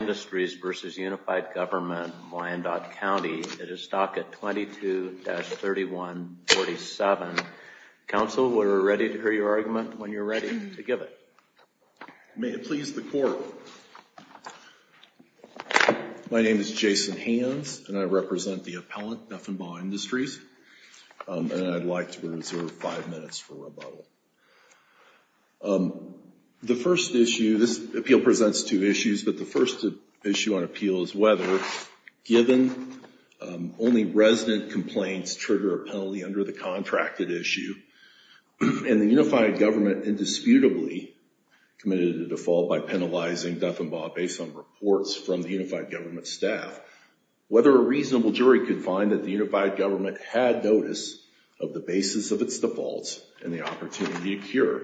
Industries v. Unified Government of Wyandotte County. It is docket 22-3147. Counsel, we are ready to hear your argument when you are ready to give it. May it please the Court, my name is Jason Hands and I represent the appellant, Deffenbaugh Industries, and I would like to reserve five minutes for rebuttal. The first issue, this issue on appeal is whether, given only resident complaints trigger a penalty under the contracted issue, and the Unified Government indisputably committed a default by penalizing Deffenbaugh based on reports from the Unified Government staff, whether a reasonable jury could find that the Unified Government had notice of the basis of its defaults and the opportunity to cure.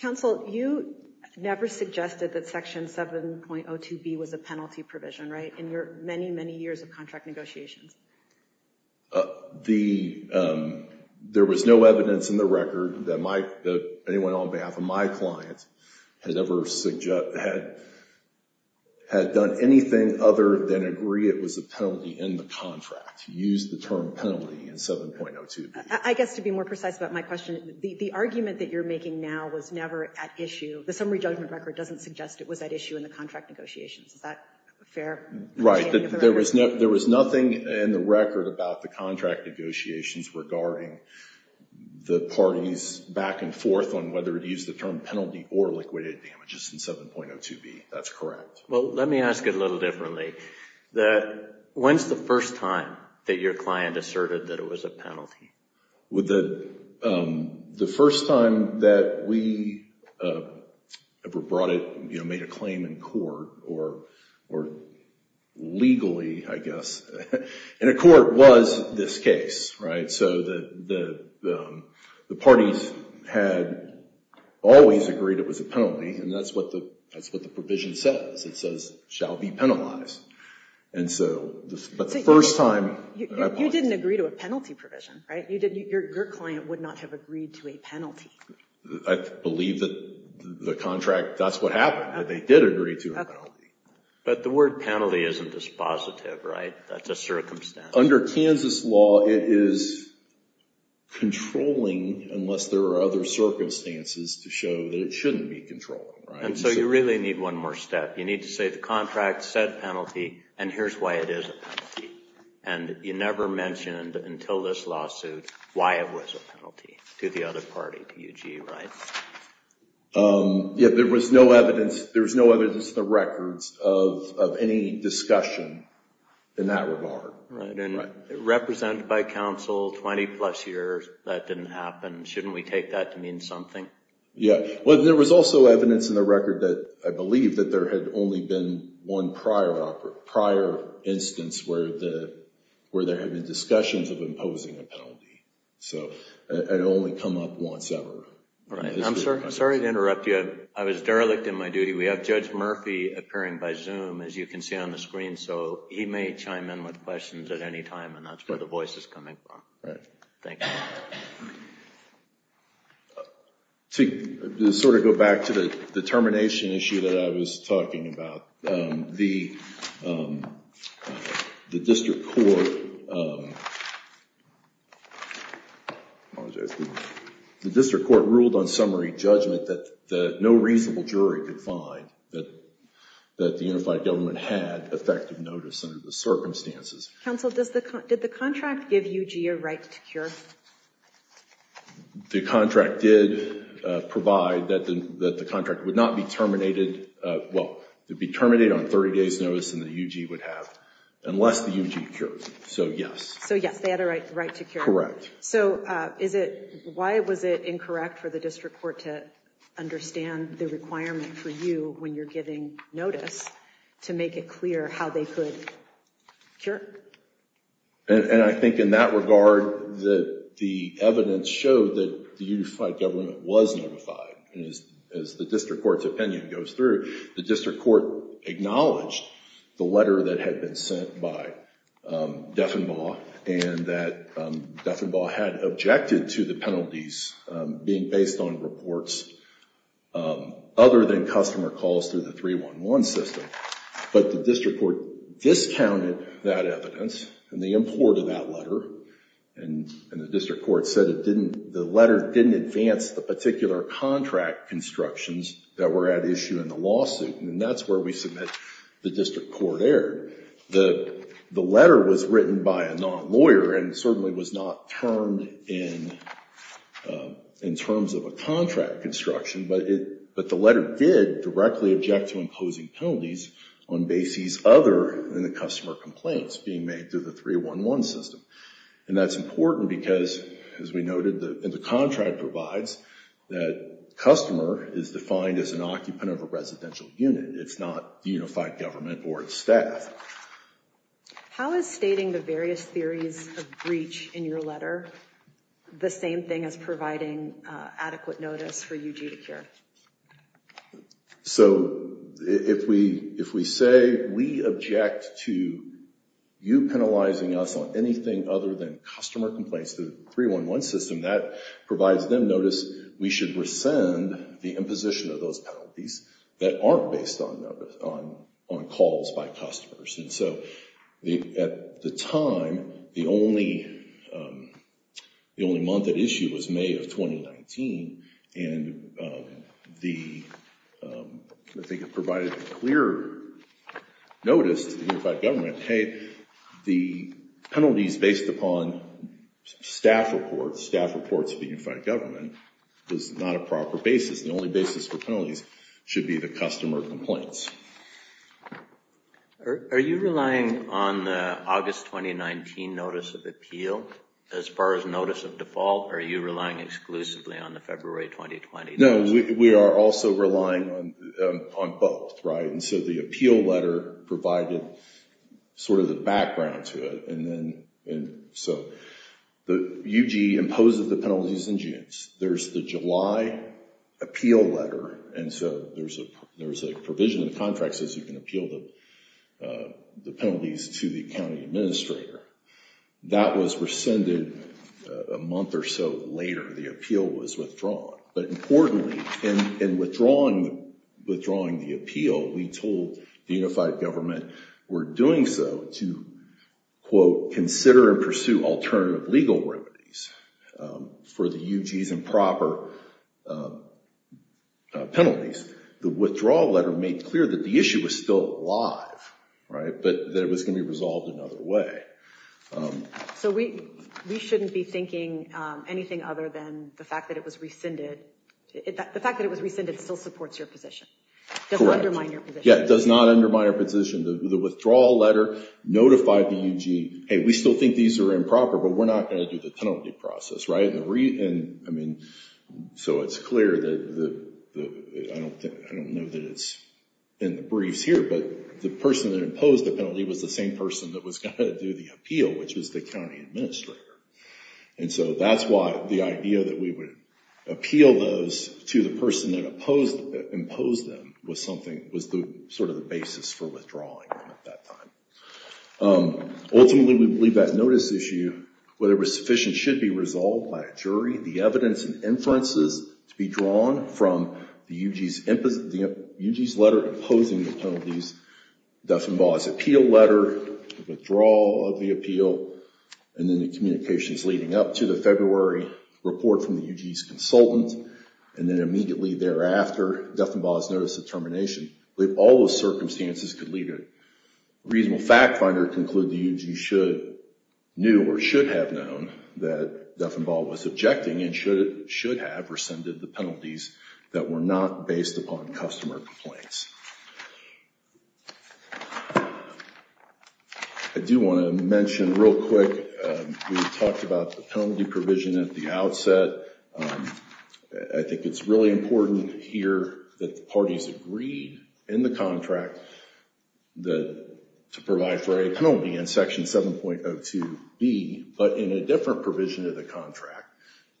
Counsel, you never suggested that Section 7.02b was a penalty provision, right, in your many, many years of contract negotiations? There was no evidence in the record that anyone on behalf of my client had ever done anything other than agree it was a penalty in the contract. He used the term penalty in 7.02b. I guess to be more precise about my question, the argument that you're making now was never at issue, the summary judgment record doesn't suggest it was at issue in the contract negotiations. Is that fair? Right. There was nothing in the record about the contract negotiations regarding the parties back and forth on whether to use the term penalty or liquidated damages in 7.02b. That's correct. Well, let me ask it a little differently. When's the first time that your client asserted that it was a penalty? The first time that we ever brought it, you know, made a claim in court or legally, I guess, in a court was this case, right? So, the parties had always agreed it was a penalty and that's what the provision says. It says, shall be penalized. And so, but the first time I've asked it. You didn't agree to a penalty provision, right? Your client would not have agreed to a penalty. I believe that the contract, that's what happened, that they did agree to a penalty. But the word penalty isn't dispositive, right? That's a circumstance. Under Kansas law, it is controlling unless there are other circumstances to show that it shouldn't be controlling, right? And so, you really need one more step. You need to say the contract said penalty and here's why it is a penalty. And you never mentioned until this lawsuit why it was a penalty to the other party, to UG, right? Yeah, there was no evidence. There was no evidence in the records of any discussion in that regard. Right. And represented by counsel, 20 plus years, that didn't happen. Shouldn't we take that to mean something? Yeah. Well, there was also evidence in the record that I believe that there had only been one prior instance where there had been discussions of imposing a penalty. So, it only come up once ever. Right. I'm sorry to interrupt you. I was derelict in my duty. We have Judge Murphy appearing by Zoom, as you can see on the screen. So, he may chime in with questions at any time and that's where the voice is coming from. Right. Thank you. To sort of go back to the termination issue that I was talking about, the district court ruled on summary judgment that no reasonable jury could find that the unified government had effective notice under the circumstances. Counsel, did the contract give UG a right to cure? The contract did provide that the contract would not be terminated, well, it would be terminated on 30 days notice than the UG would have, unless the UG cured. So, yes. So, yes, they had a right to cure. Correct. So, why was it incorrect for the district court to understand the requirement for you when you're giving notice to make it clear how they could cure? And I think in that regard that the evidence showed that the unified government was notified. As the district court's opinion goes through, the district court acknowledged the letter that had been sent by Deffenbaugh and that Deffenbaugh had objected to the penalties being based on reports other than customer calls through the 311 system. But the district court discounted that evidence and they imported that letter. And the district court said the letter didn't advance the particular contract constructions that were at issue in the lawsuit. And that's where we submit the district court error. The letter was written by a non-lawyer and certainly was not termed in terms of a contract construction, but the letter did directly object to imposing penalties on bases other than the customer complaints being made through the 311 system. And that's important because, as we noted, the contract provides that customer is defined as an occupant of a residential unit. It's not the unified government or its staff. How is stating the various theories of breach in your letter the same thing as providing adequate notice for you to cure? So if we say we object to you penalizing us on anything other than customer complaints through the 311 system, that provides them notice we should rescind the imposition of those penalties that aren't based on calls by customers. And so at the time, the only month at issue was May of 2019. And I think it provided a clear notice to the unified government, hey, the penalties based upon staff reports of the unified government is not a proper basis. The only basis for penalties should be the customer complaints. Are you relying on the August 2019 notice of appeal? As far as notice of default, are you relying exclusively on the February 2020 notice? No, we are also relying on both, right? And so the appeal letter provided sort of the background to it. And so the UG imposed the penalties in June. There's the July appeal letter, and so there's a provision in the contract that says you can appeal the penalties to the county administrator. That was rescinded a month or so later. The appeal was withdrawn. But importantly, in withdrawing the appeal, we told the unified government we're doing so to, quote, consider and pursue alternative legal remedies for the UG's improper penalties. The withdrawal letter made clear that the issue was still alive, right? But that it was going to be resolved another way. So we shouldn't be thinking anything other than the fact that it was rescinded. The fact that it was rescinded still supports your position? Correct. Yeah, it does not undermine our position. The withdrawal letter notified the UG, hey, we still think these are improper, but we're not going to do the penalty process, right? So it's clear that the, I don't know that it's in the briefs here, but the person that imposed the penalty was the same person that was going to do the appeal, which was the county administrator. And so that's why the idea that we would appeal those to the person that imposed them was sort of the basis for withdrawing at that time. Ultimately, we believe that notice issue, whether it was sufficient, should be resolved by a jury. The evidence and inferences to be drawn from the UG's letter imposing the penalties, Duffenbaugh's appeal letter, the withdrawal of the appeal, and then the communications leading up to the February report from the UG's consultant, and then immediately thereafter Duffenbaugh's notice of termination. We believe all those circumstances could lead to a reasonable fact finder to conclude the UG knew or should have known that Duffenbaugh was objecting and should have rescinded the penalties that were not based upon customer complaints. I do want to mention real quick, we talked about the penalty provision at the outset. I think it's really important here that the parties agreed in the contract to provide for a penalty in Section 7.02B, but in a different provision of the contract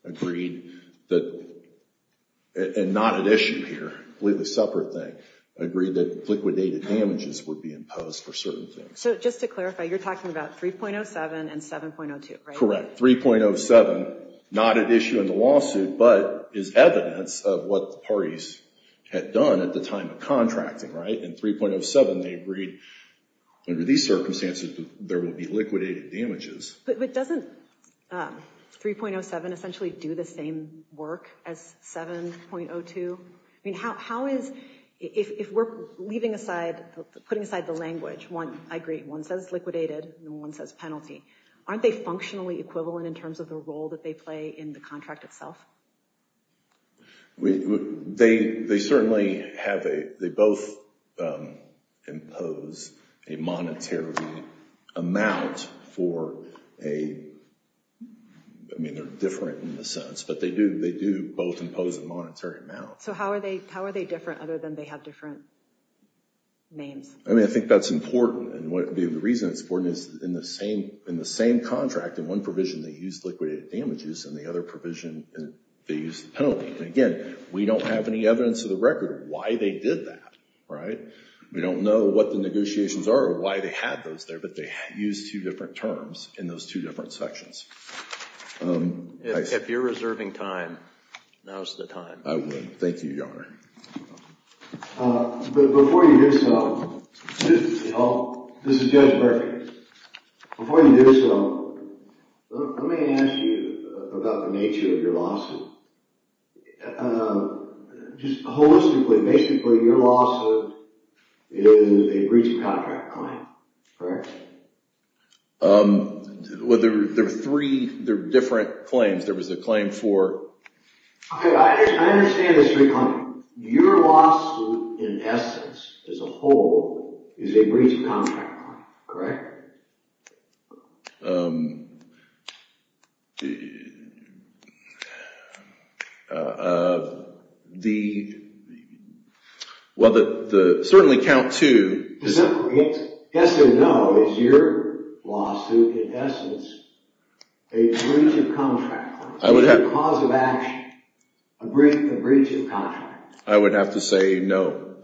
agreed that, and not at issue here, I believe a separate thing, agreed that liquidated damages would be imposed for certain things. So just to clarify, you're talking about 3.07 and 7.02, right? Correct. 3.07, not at issue in the lawsuit, but is evidence of what the parties had done at the time of contracting, right? In 3.07 they agreed under these circumstances that there would be liquidated damages. But doesn't 3.07 essentially do the same work as 7.02? I mean, how is, if we're leaving aside, putting aside the language, one, I agree, one says liquidated and one says penalty, aren't they functionally equivalent in terms of the role that they play in the contract itself? They certainly have a, they both impose a monetary amount for a, I mean they're different in a sense, but they do both impose a monetary amount. So how are they different other than they have different names? I mean, I think that's important. The reason it's important is in the same contract, in one provision they used liquidated damages, in the other provision they used the penalty. Again, we don't have any evidence of the record of why they did that, right? We don't know what the negotiations are or why they had those there, but they used two different terms in those two different sections. If you're reserving time, now's the time. I would. Thank you, Your Honor. Before you do so, this is Judge Murphy. Before you do so, let me ask you about the nature of your lawsuit. Just holistically, basically your lawsuit is a breach of contract claim, correct? Well, there were three different claims. I understand the three claims. Your lawsuit, in essence, as a whole, is a breach of contract claim, correct? Well, certainly count two. Yes or no, is your lawsuit, in essence, a breach of contract? Is it a cause of action, a breach of contract? I would have to say no.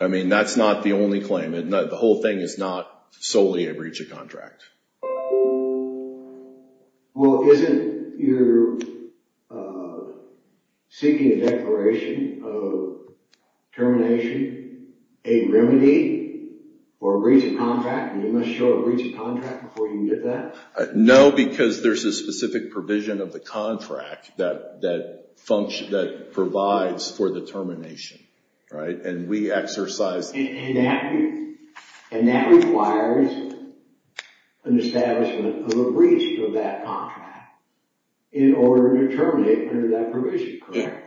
I mean, that's not the only claim. The whole thing is not solely a breach of contract. Well, isn't your seeking a declaration of termination a remedy or a breach of contract, and you must show a breach of contract before you can get that? No, because there's a specific provision of the contract that provides for the termination, right? And that requires an establishment of a breach of that contract in order to terminate under that provision, correct?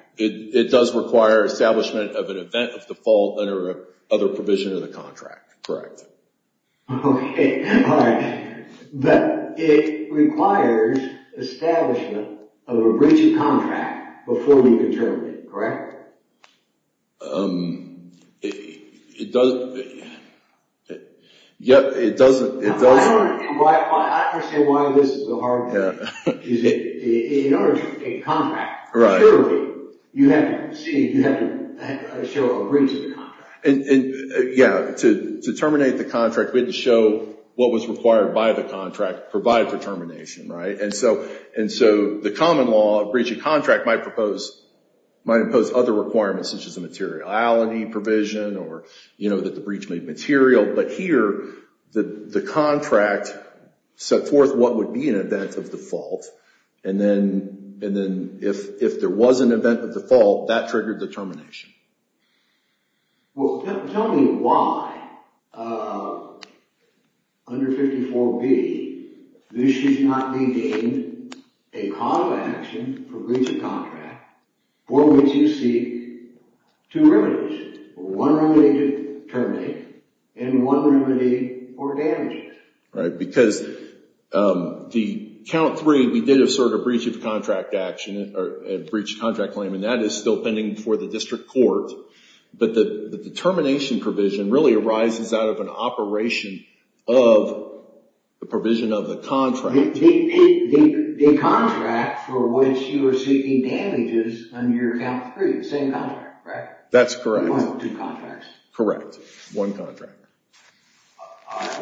Okay, all right. But it requires establishment of a breach of contract before we can terminate, correct? It doesn't. Yep, it doesn't. I understand why this is so hard. In order to get a contract, clearly, you have to show a breach of the contract. Yeah, to terminate the contract, we had to show what was required by the contract provided for termination, right? And so the common law of breach of contract might impose other requirements, such as a materiality, a copy provision, or that the breach may be material. But here, the contract set forth what would be an event of default, and then if there was an event of default, that triggered the termination. Well, tell me why, under 54B, this should not be deemed a cause of action for breach of contract, for which you seek two remedies. One remedy to terminate, and one remedy for damages. Right, because the Count 3, we did a sort of breach of contract action, or breach of contract claim, and that is still pending before the district court. But the termination provision really arises out of an operation of the provision of the contract. The contract for which you are seeking damages under your Count 3, the same contract, right? That's correct. One of two contracts. Correct, one contract.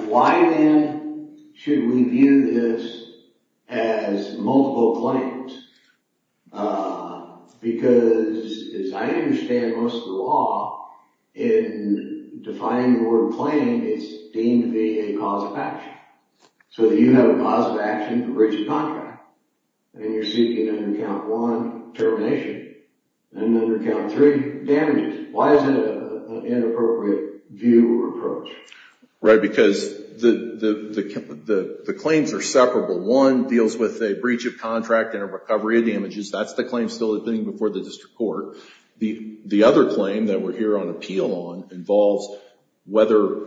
Why, then, should we view this as multiple claims? Because, as I understand most of the law, in defining the word claim, it's deemed to be a cause of action. So you have a cause of action for breach of contract, and you're seeking, under Count 1, termination, and under Count 3, damages. Why is it an inappropriate view or approach? Right, because the claims are separable. One deals with a breach of contract and a recovery of damages. That's the claim still pending before the district court. The other claim that we're here on appeal on involves whether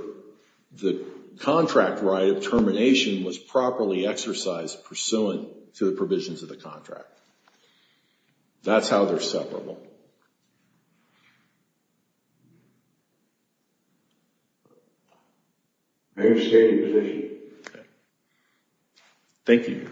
the contract right of termination was properly exercised pursuant to the provisions of the contract. That's how they're separable. I understand your position. Thank you.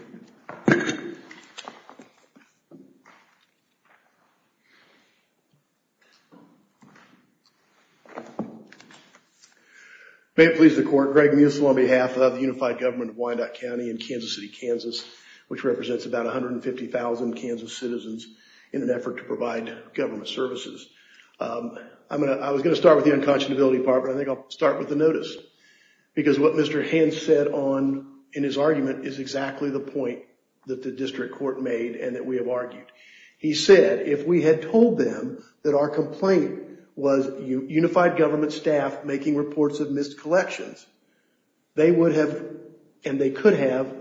May it please the Court, Greg Musil on behalf of the Unified Government of Wyandotte County and Kansas City, Kansas, which represents about 150,000 Kansas citizens in an effort to provide government services. I was going to start with the unconscionability part, but I think I'll start with the notice. Because what Mr. Hans said in his argument is exactly the point that the district court made and that we have argued. He said, if we had told them that our complaint was unified government staff making reports of missed collections, they would have, and they could have,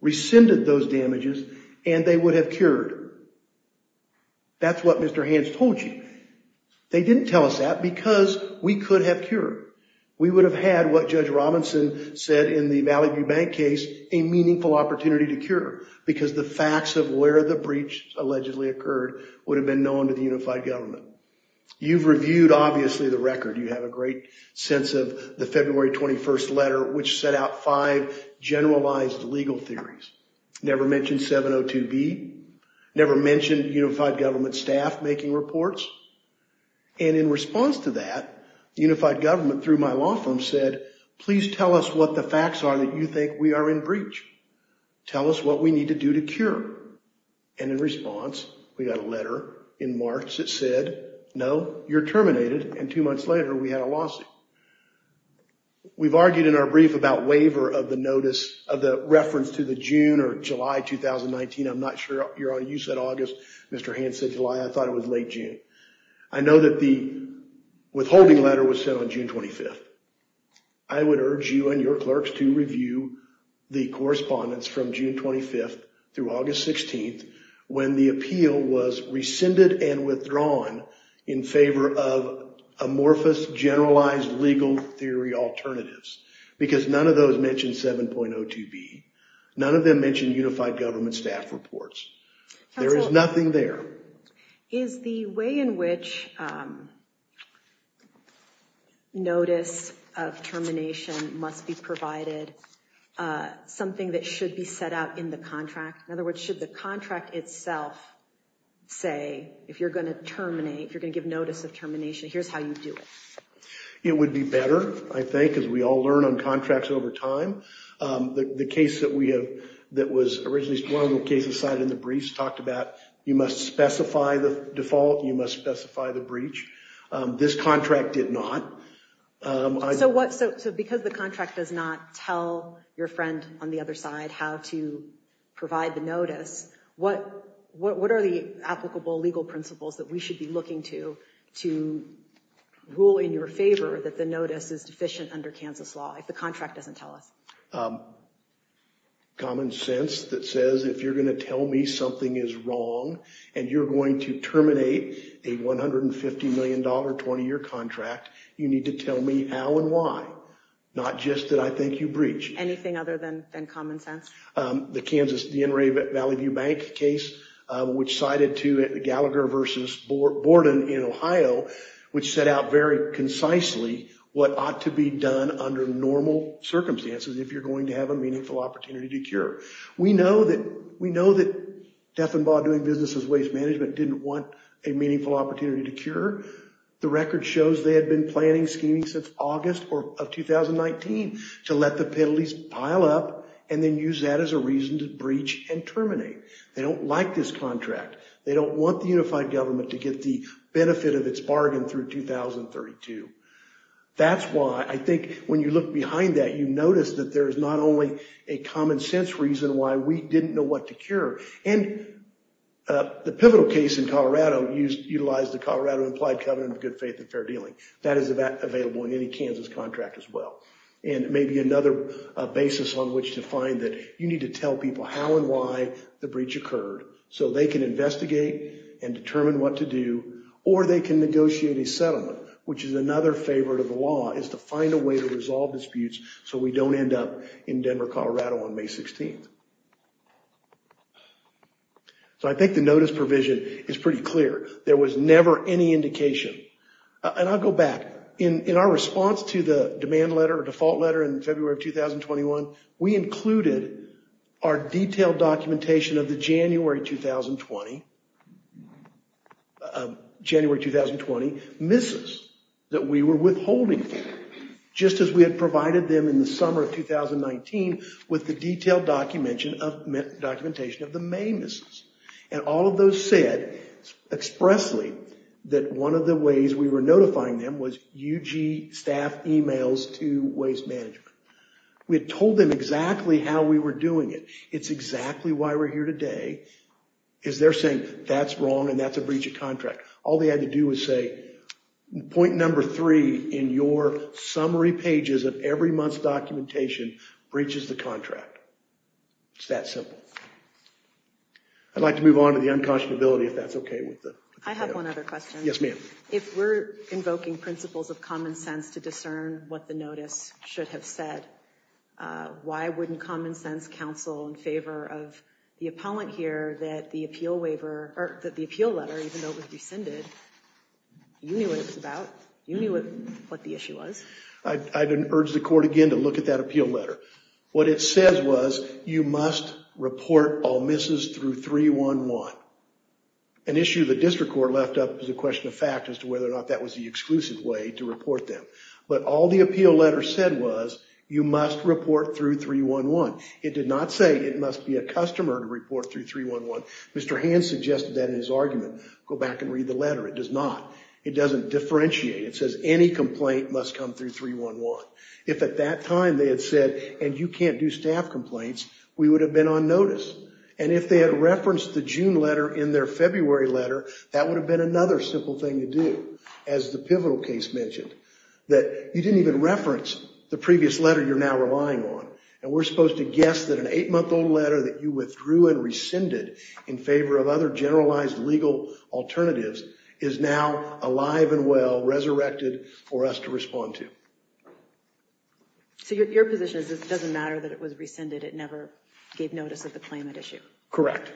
rescinded those damages and they would have cured. That's what Mr. Hans told you. They didn't tell us that because we could have cured. We would have had what Judge Robinson said in the Valley View Bank case, a meaningful opportunity to cure because the facts of where the breach allegedly occurred would have been known to the unified government. You've reviewed, obviously, the record. You have a great sense of the February 21st letter, which set out five generalized legal theories. Never mentioned 702B. Never mentioned unified government staff making reports. And in response to that, unified government, through my law firm, said, please tell us what the facts are that you think we are in breach. Tell us what we need to do to cure. And in response, we got a letter in March that said, no, you're terminated. And two months later, we had a lawsuit. We've argued in our brief about waiver of the notice of the reference to the June or July 2019. I'm not sure you're on. You said August. Mr. Hans said July. I thought it was late June. I know that the withholding letter was sent on June 25th. I would urge you and your clerks to review the correspondence from June 25th through August 16th when the appeal was rescinded and withdrawn in favor of amorphous generalized legal theory alternatives. Because none of those mentioned 7.02B. None of them mentioned unified government staff reports. There is nothing there. Is the way in which notice of termination must be provided something that should be set out in the contract? In other words, should the contract itself say, if you're going to terminate, if you're going to give notice of termination, here's how you do it. It would be better, I think, as we all learn on contracts over time. The case that we have that was originally a case decided in the briefs talked about you must specify the default. You must specify the breach. This contract did not. So because the contract does not tell your friend on the other side how to provide the notice, what are the applicable legal principles that we should be looking to to rule in your favor that the notice is deficient under Kansas law if the contract doesn't tell us? Common sense that says if you're going to tell me something is wrong and you're going to terminate a $150 million 20-year contract, you need to tell me how and why, not just that I think you breached. Anything other than common sense? The Kansas Valley View Bank case, which cited to Gallagher versus Borden in Ohio, which set out very concisely what ought to be done under normal circumstances if you're going to have a meaningful opportunity to cure. We know that Defenbaugh doing business as waste management didn't want a meaningful opportunity to cure. The record shows they had been planning, scheming since August of 2019 to let the penalties pile up and then use that as a reason to breach and terminate. They don't like this contract. They don't want the unified government to get the benefit of its bargain through 2032. That's why I think when you look behind that, you notice that there is not only a common sense reason why we didn't know what to cure. The pivotal case in Colorado utilized the Colorado Implied Covenant of Good Faith and Fair Dealing. That is available in any Kansas contract as well. It may be another basis on which to find that you need to tell people how and why the breach occurred so they can investigate and determine what to do, or they can negotiate a settlement, which is another favorite of the law, is to find a way to resolve disputes so we don't end up in Denver, Colorado on May 16th. So I think the notice provision is pretty clear. There was never any indication. And I'll go back. In our response to the demand letter or default letter in February of 2021, we included our detailed documentation of the January 2020 misses that we were withholding, just as we had provided them in the summer of 2019 with the detailed documentation of the May misses. And all of those said expressly that one of the ways we were notifying them was UG staff emails to waste management. We had told them exactly how we were doing it. It's exactly why we're here today, is they're saying that's wrong and that's a breach of contract. All they had to do was say, point number three in your summary pages of every month's documentation breaches the contract. It's that simple. I'd like to move on to the unconscionability, if that's okay with the panel. I have one other question. Yes, ma'am. If we're invoking principles of common sense to discern what the notice should have said, why wouldn't common sense counsel in favor of the appellant here that the appeal letter, even though it was rescinded, you knew what it was about. You knew what the issue was. I'd urge the court again to look at that appeal letter. What it says was you must report all misses through 311. An issue the district court left up was a question of fact as to whether or not that was the exclusive way to report them. But all the appeal letter said was you must report through 311. It did not say it must be a customer to report through 311. Mr. Hans suggested that in his argument. Go back and read the letter. It does not. It doesn't differentiate. It says any complaint must come through 311. If at that time they had said, and you can't do staff complaints, we would have been on notice. And if they had referenced the June letter in their February letter, that would have been another simple thing to do, as the Pivotal case mentioned. That you didn't even reference the previous letter you're now relying on. And we're supposed to guess that an eight-month-old letter that you withdrew and rescinded in favor of other generalized legal alternatives is now alive and well, resurrected for us to respond to. So your position is it doesn't matter that it was rescinded. It never gave notice of the claimant issue. Correct.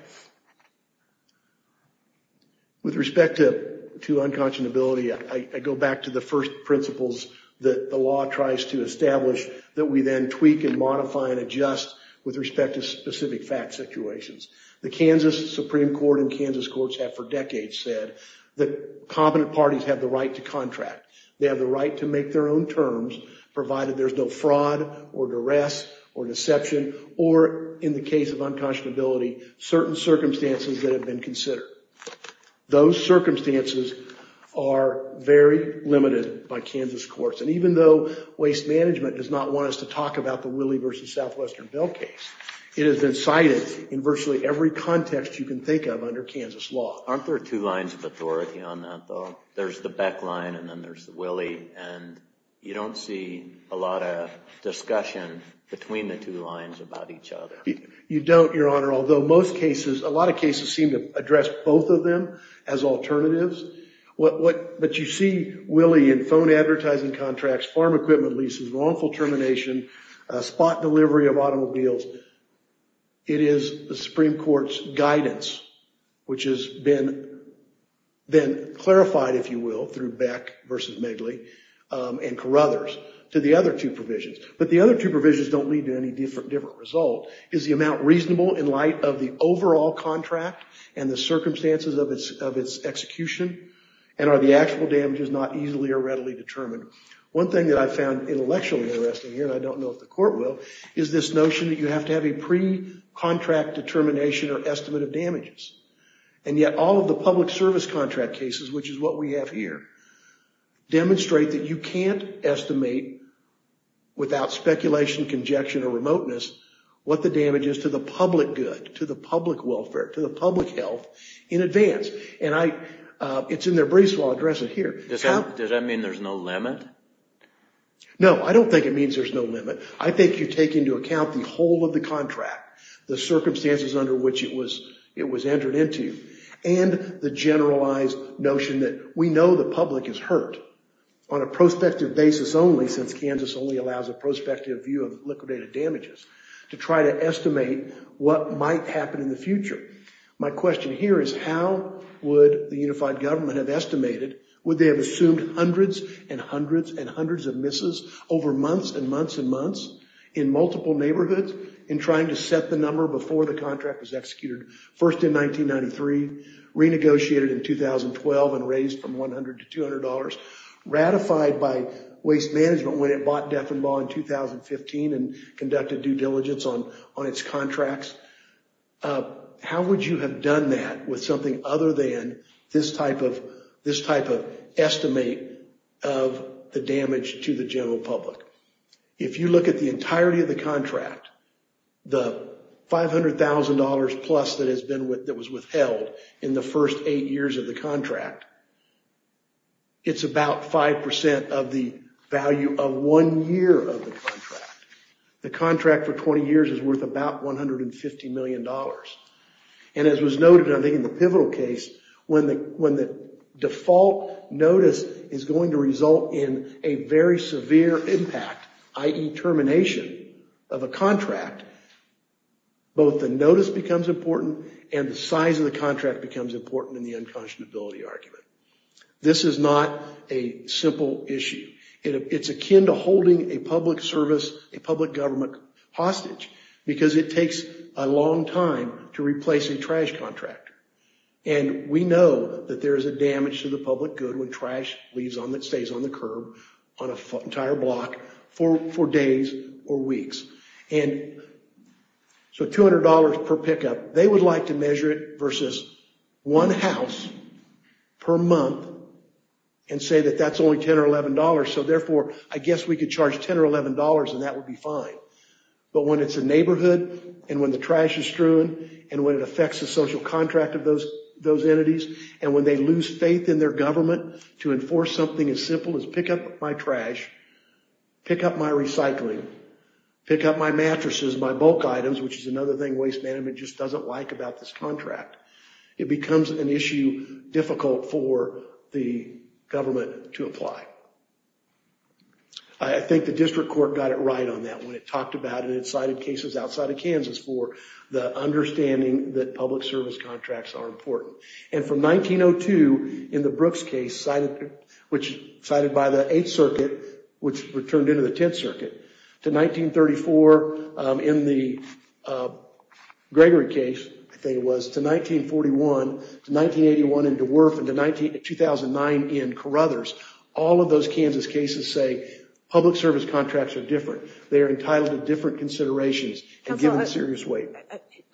With respect to unconscionability, I go back to the first principles that the law tries to establish that we then tweak and modify and adjust with respect to specific fact situations. The Kansas Supreme Court and Kansas courts have for decades said that competent parties have the right to contract. They have the right to make their own terms, provided there's no fraud or duress or deception or, in the case of unconscionability, certain circumstances that have been considered. Those circumstances are very limited by Kansas courts. And even though Waste Management does not want us to talk about the Willie v. Southwestern Bell case, it has been cited in virtually every context you can think of under Kansas law. Aren't there two lines of authority on that, though? There's the Beck line and then there's the Willie, and you don't see a lot of discussion between the two lines about each other. You don't, Your Honor, although a lot of cases seem to address both of them as alternatives. But you see Willie in phone advertising contracts, farm equipment leases, wrongful termination, spot delivery of automobiles. It is the Supreme Court's guidance, which has been clarified, if you will, through Beck v. Medley and Carruthers to the other two provisions. But the other two provisions don't lead to any different result. Is the amount reasonable in light of the overall contract and the circumstances of its execution? And are the actual damages not easily or readily determined? One thing that I found intellectually interesting here, and I don't know if the Court will, is this notion that you have to have a pre-contract determination or estimate of damages. And yet all of the public service contract cases, which is what we have here, demonstrate that you can't estimate without speculation, conjecture, or remoteness what the damage is to the public good, to the public welfare, to the public health in advance. And it's in their briefs while I address it here. Does that mean there's no limit? No, I don't think it means there's no limit. I think you take into account the whole of the contract, the circumstances under which it was entered into, and the generalized notion that we know the public is hurt on a prospective basis only, since Kansas only allows a prospective view of liquidated damages, to try to estimate what might happen in the future. My question here is how would the unified government have estimated, would they have assumed hundreds and hundreds and hundreds of misses over months and months and months in multiple neighborhoods in trying to set the number before the contract was executed? First in 1993, renegotiated in 2012 and raised from $100 to $200, ratified by waste management when it bought Defenbaugh in 2015 and conducted due diligence on its contracts. How would you have done that with something other than this type of estimate of the damage to the general public? If you look at the entirety of the contract, the $500,000 plus that was withheld in the first eight years of the contract, it's about 5% of the value of one year of the contract. The contract for 20 years is worth about $150 million. And as was noted I think in the pivotal case, when the default notice is going to result in a very severe impact, i.e. termination of a contract, both the notice becomes important and the size of the contract becomes important in the unconscionability argument. This is not a simple issue. It's akin to holding a public service, a public government hostage because it takes a long time to replace a trash contractor. And we know that there is a damage to the public good when trash leaves on that stays on the curb, on an entire block for days or weeks. And so $200 per pickup, they would like to measure it versus one house per month and say that that's only $10 or $11. So therefore, I guess we could charge $10 or $11 and that would be fine. But when it's a neighborhood and when the trash is strewn and when it affects the social contract of those entities and when they lose faith in their government to enforce something as simple as pick up my trash, pick up my recycling, pick up my mattresses, my bulk items, which is another thing Waste Management just doesn't like about this contract, it becomes an issue difficult for the government to apply. I think the district court got it right on that one. It talked about it and it cited cases outside of Kansas for the understanding that public service contracts are important. And from 1902 in the Brooks case, which was cited by the 8th Circuit, which returned into the 10th Circuit, to 1934 in the Gregory case, I think it was, to 1941, to 1981 in DeWerff, and to 2009 in Carruthers, all of those Kansas cases say public service contracts are different. They are entitled to different considerations and given serious weight.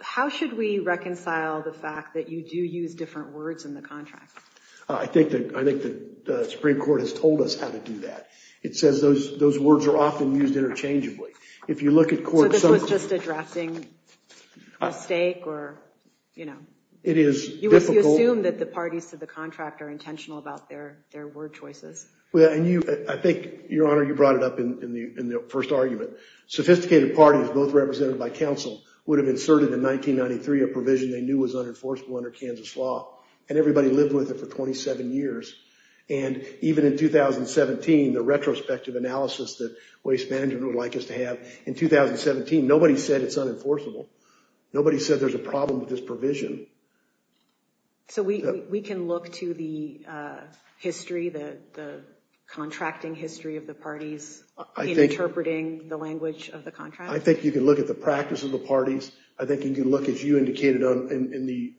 How should we reconcile the fact that you do use different words in the contract? I think the Supreme Court has told us how to do that. It says those words are often used interchangeably. So this was just a drafting mistake? You assume that the parties to the contract are intentional about their word choices. I think, Your Honor, you brought it up in the first argument. Sophisticated parties, both represented by counsel, would have inserted in 1993 a provision they knew was unenforceable under Kansas law, and everybody lived with it for 27 years. And even in 2017, the retrospective analysis that Waste Management would like us to have in 2017, nobody said it's unenforceable. Nobody said there's a problem with this provision. So we can look to the history, the contracting history of the parties, in interpreting the language of the contract? I think you can look at the practice of the parties. I think you can look, as you indicated in the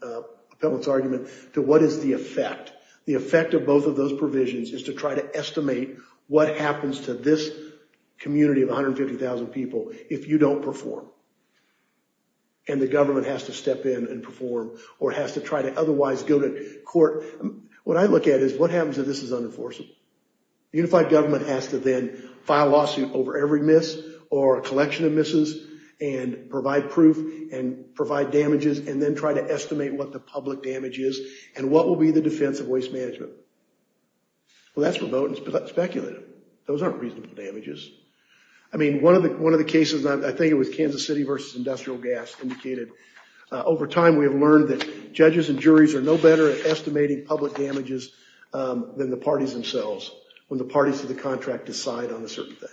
appellant's argument, to what is the effect. The effect of both of those provisions is to try to estimate what happens to this community of 150,000 people if you don't perform, and the government has to step in and perform, or has to try to otherwise go to court. What I look at is what happens if this is unenforceable? The unified government has to then file a lawsuit over every miss or a collection of misses and provide proof and provide damages and then try to estimate what the public damage is and what will be the defense of Waste Management. Well, that's remote and speculative. Those aren't reasonable damages. I mean, one of the cases, and I think it was Kansas City versus Industrial Gas indicated, over time we have learned that judges and juries are no better at estimating public damages than the parties themselves when the parties to the contract decide on a certain thing.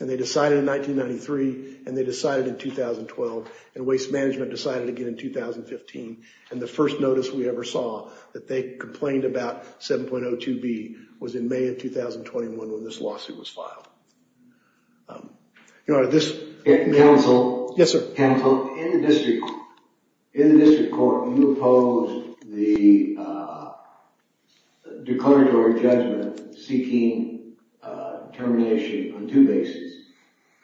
And they decided in 1993, and they decided in 2012, and Waste Management decided again in 2015. And the first notice we ever saw that they complained about 7.02b was in May of 2021 when this lawsuit was filed. Counsel? Yes, sir. Counsel, in the district court, you opposed the declaratory judgment seeking termination on two bases,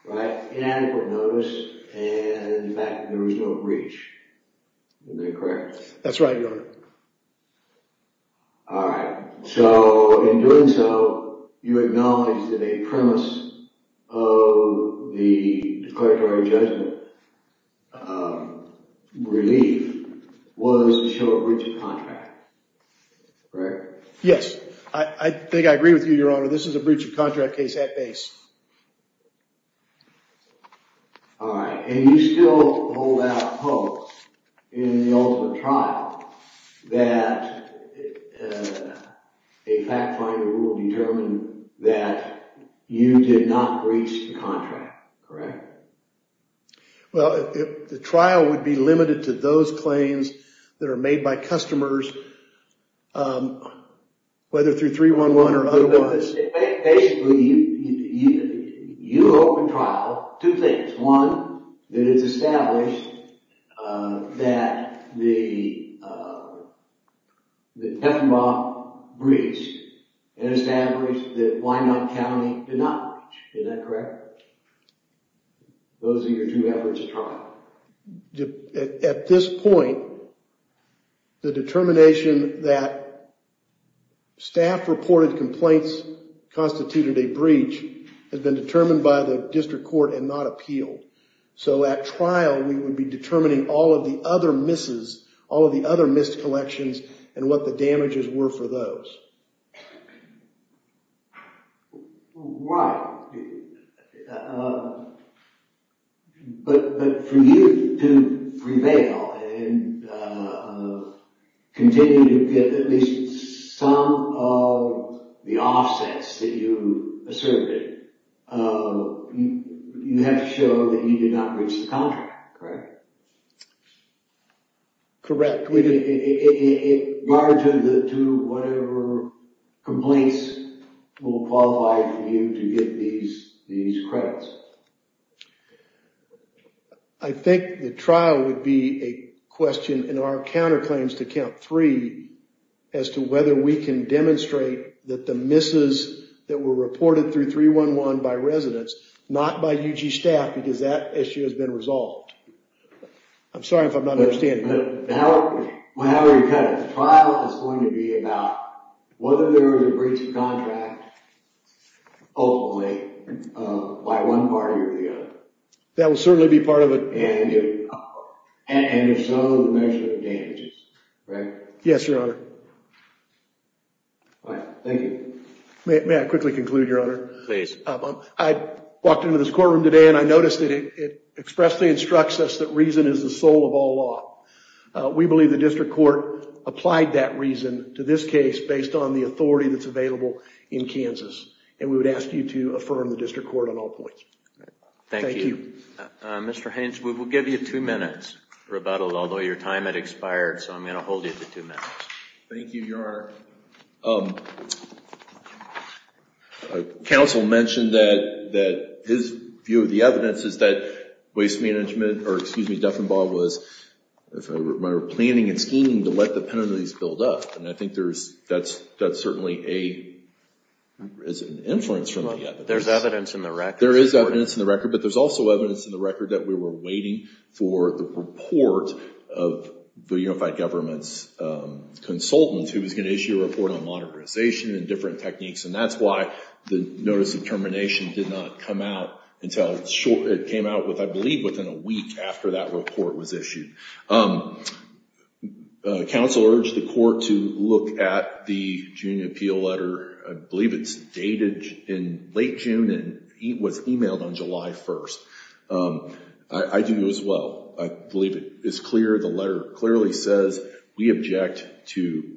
right? Inadequate notice, and in fact, there was no breach. Is that correct? That's right, Your Honor. All right. So in doing so, you acknowledge that a premise of the declaratory judgment relief was to show a breach of contract, correct? Yes. I think I agree with you, Your Honor. This is a breach of contract case at base. All right. And you still hold out hope in the ultimate trial that a fact finder will determine that you did not breach the contract, correct? Well, the trial would be limited to those claims that are made by customers, whether through 311 or otherwise. Basically, you open trial two things. One, that it's established that Heffenbach breached and established that Wyandotte County did not breach. Is that correct? Those are your two efforts at trial. At this point, the determination that staff reported complaints constituted a breach has been determined by the district court and not appealed. So at trial, we would be determining all of the other missed collections and what the damages were for those. Right. But for you to prevail and continue to get at least some of the offsets that you asserted, you have to show that you did not breach the contract, correct? Correct. In regard to whatever complaints will qualify for you to get these credits? I think the trial would be a question in our counterclaims to count three as to whether we can demonstrate that the misses that were reported through 311 by residents, not by UG staff, because that issue has been resolved. I'm sorry if I'm not understanding that. But however you cut it, the trial is going to be about whether there was a breach of contract, ultimately, by one party or the other. That will certainly be part of it. And if so, the measure of damages, right? Yes, Your Honor. Thank you. May I quickly conclude, Your Honor? Please. I walked into this courtroom today and I noticed that it expressly instructs us that reason is the soul of all law. We believe the district court applied that reason to this case based on the authority that's available in Kansas. And we would ask you to affirm the district court on all points. Thank you. Thank you. Mr. Haynes, we will give you two minutes for rebuttal, although your time had expired. So I'm going to hold you to two minutes. Thank you, Your Honor. Counsel mentioned that his view of the evidence is that Waste Management, or excuse me, Duffenbaugh was planning and scheming to let the penalties build up. And I think that's certainly an influence from the evidence. There's evidence in the record. There is evidence in the record. But there's also evidence in the record that we were waiting for the report of the Unified Government's consultant, who was going to issue a report on modernization and different techniques. And that's why the notice of termination did not come out until it came out with, I believe, within a week after that report was issued. Counsel urged the court to look at the June appeal letter. I believe it's dated in late June and was emailed on July 1st. I do as well. I believe it is clear. The letter clearly says we object to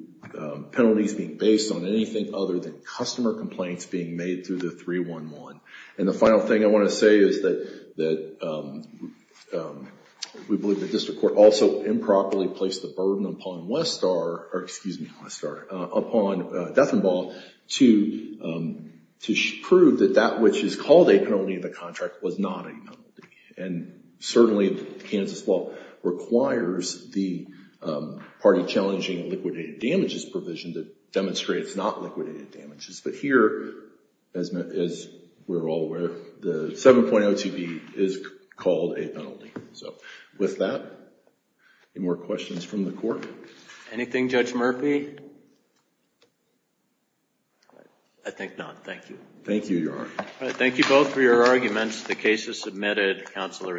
penalties being based on anything other than customer complaints being made through the 311. And the final thing I want to say is that we believe the district court also improperly placed the burden upon Westar, or excuse me, upon Duffenbaugh to prove that that which is called a penalty in the contract was not a penalty. And certainly Kansas law requires the party challenging liquidated damages provision that demonstrates not liquidated damages. But here, as we're all aware, the 7.02b is called a penalty. So with that, any more questions from the court? Anything, Judge Murphy? I think not. Thank you. Thank you, Your Honor. Thank you both for your arguments. The case is submitted. Counsel are excused.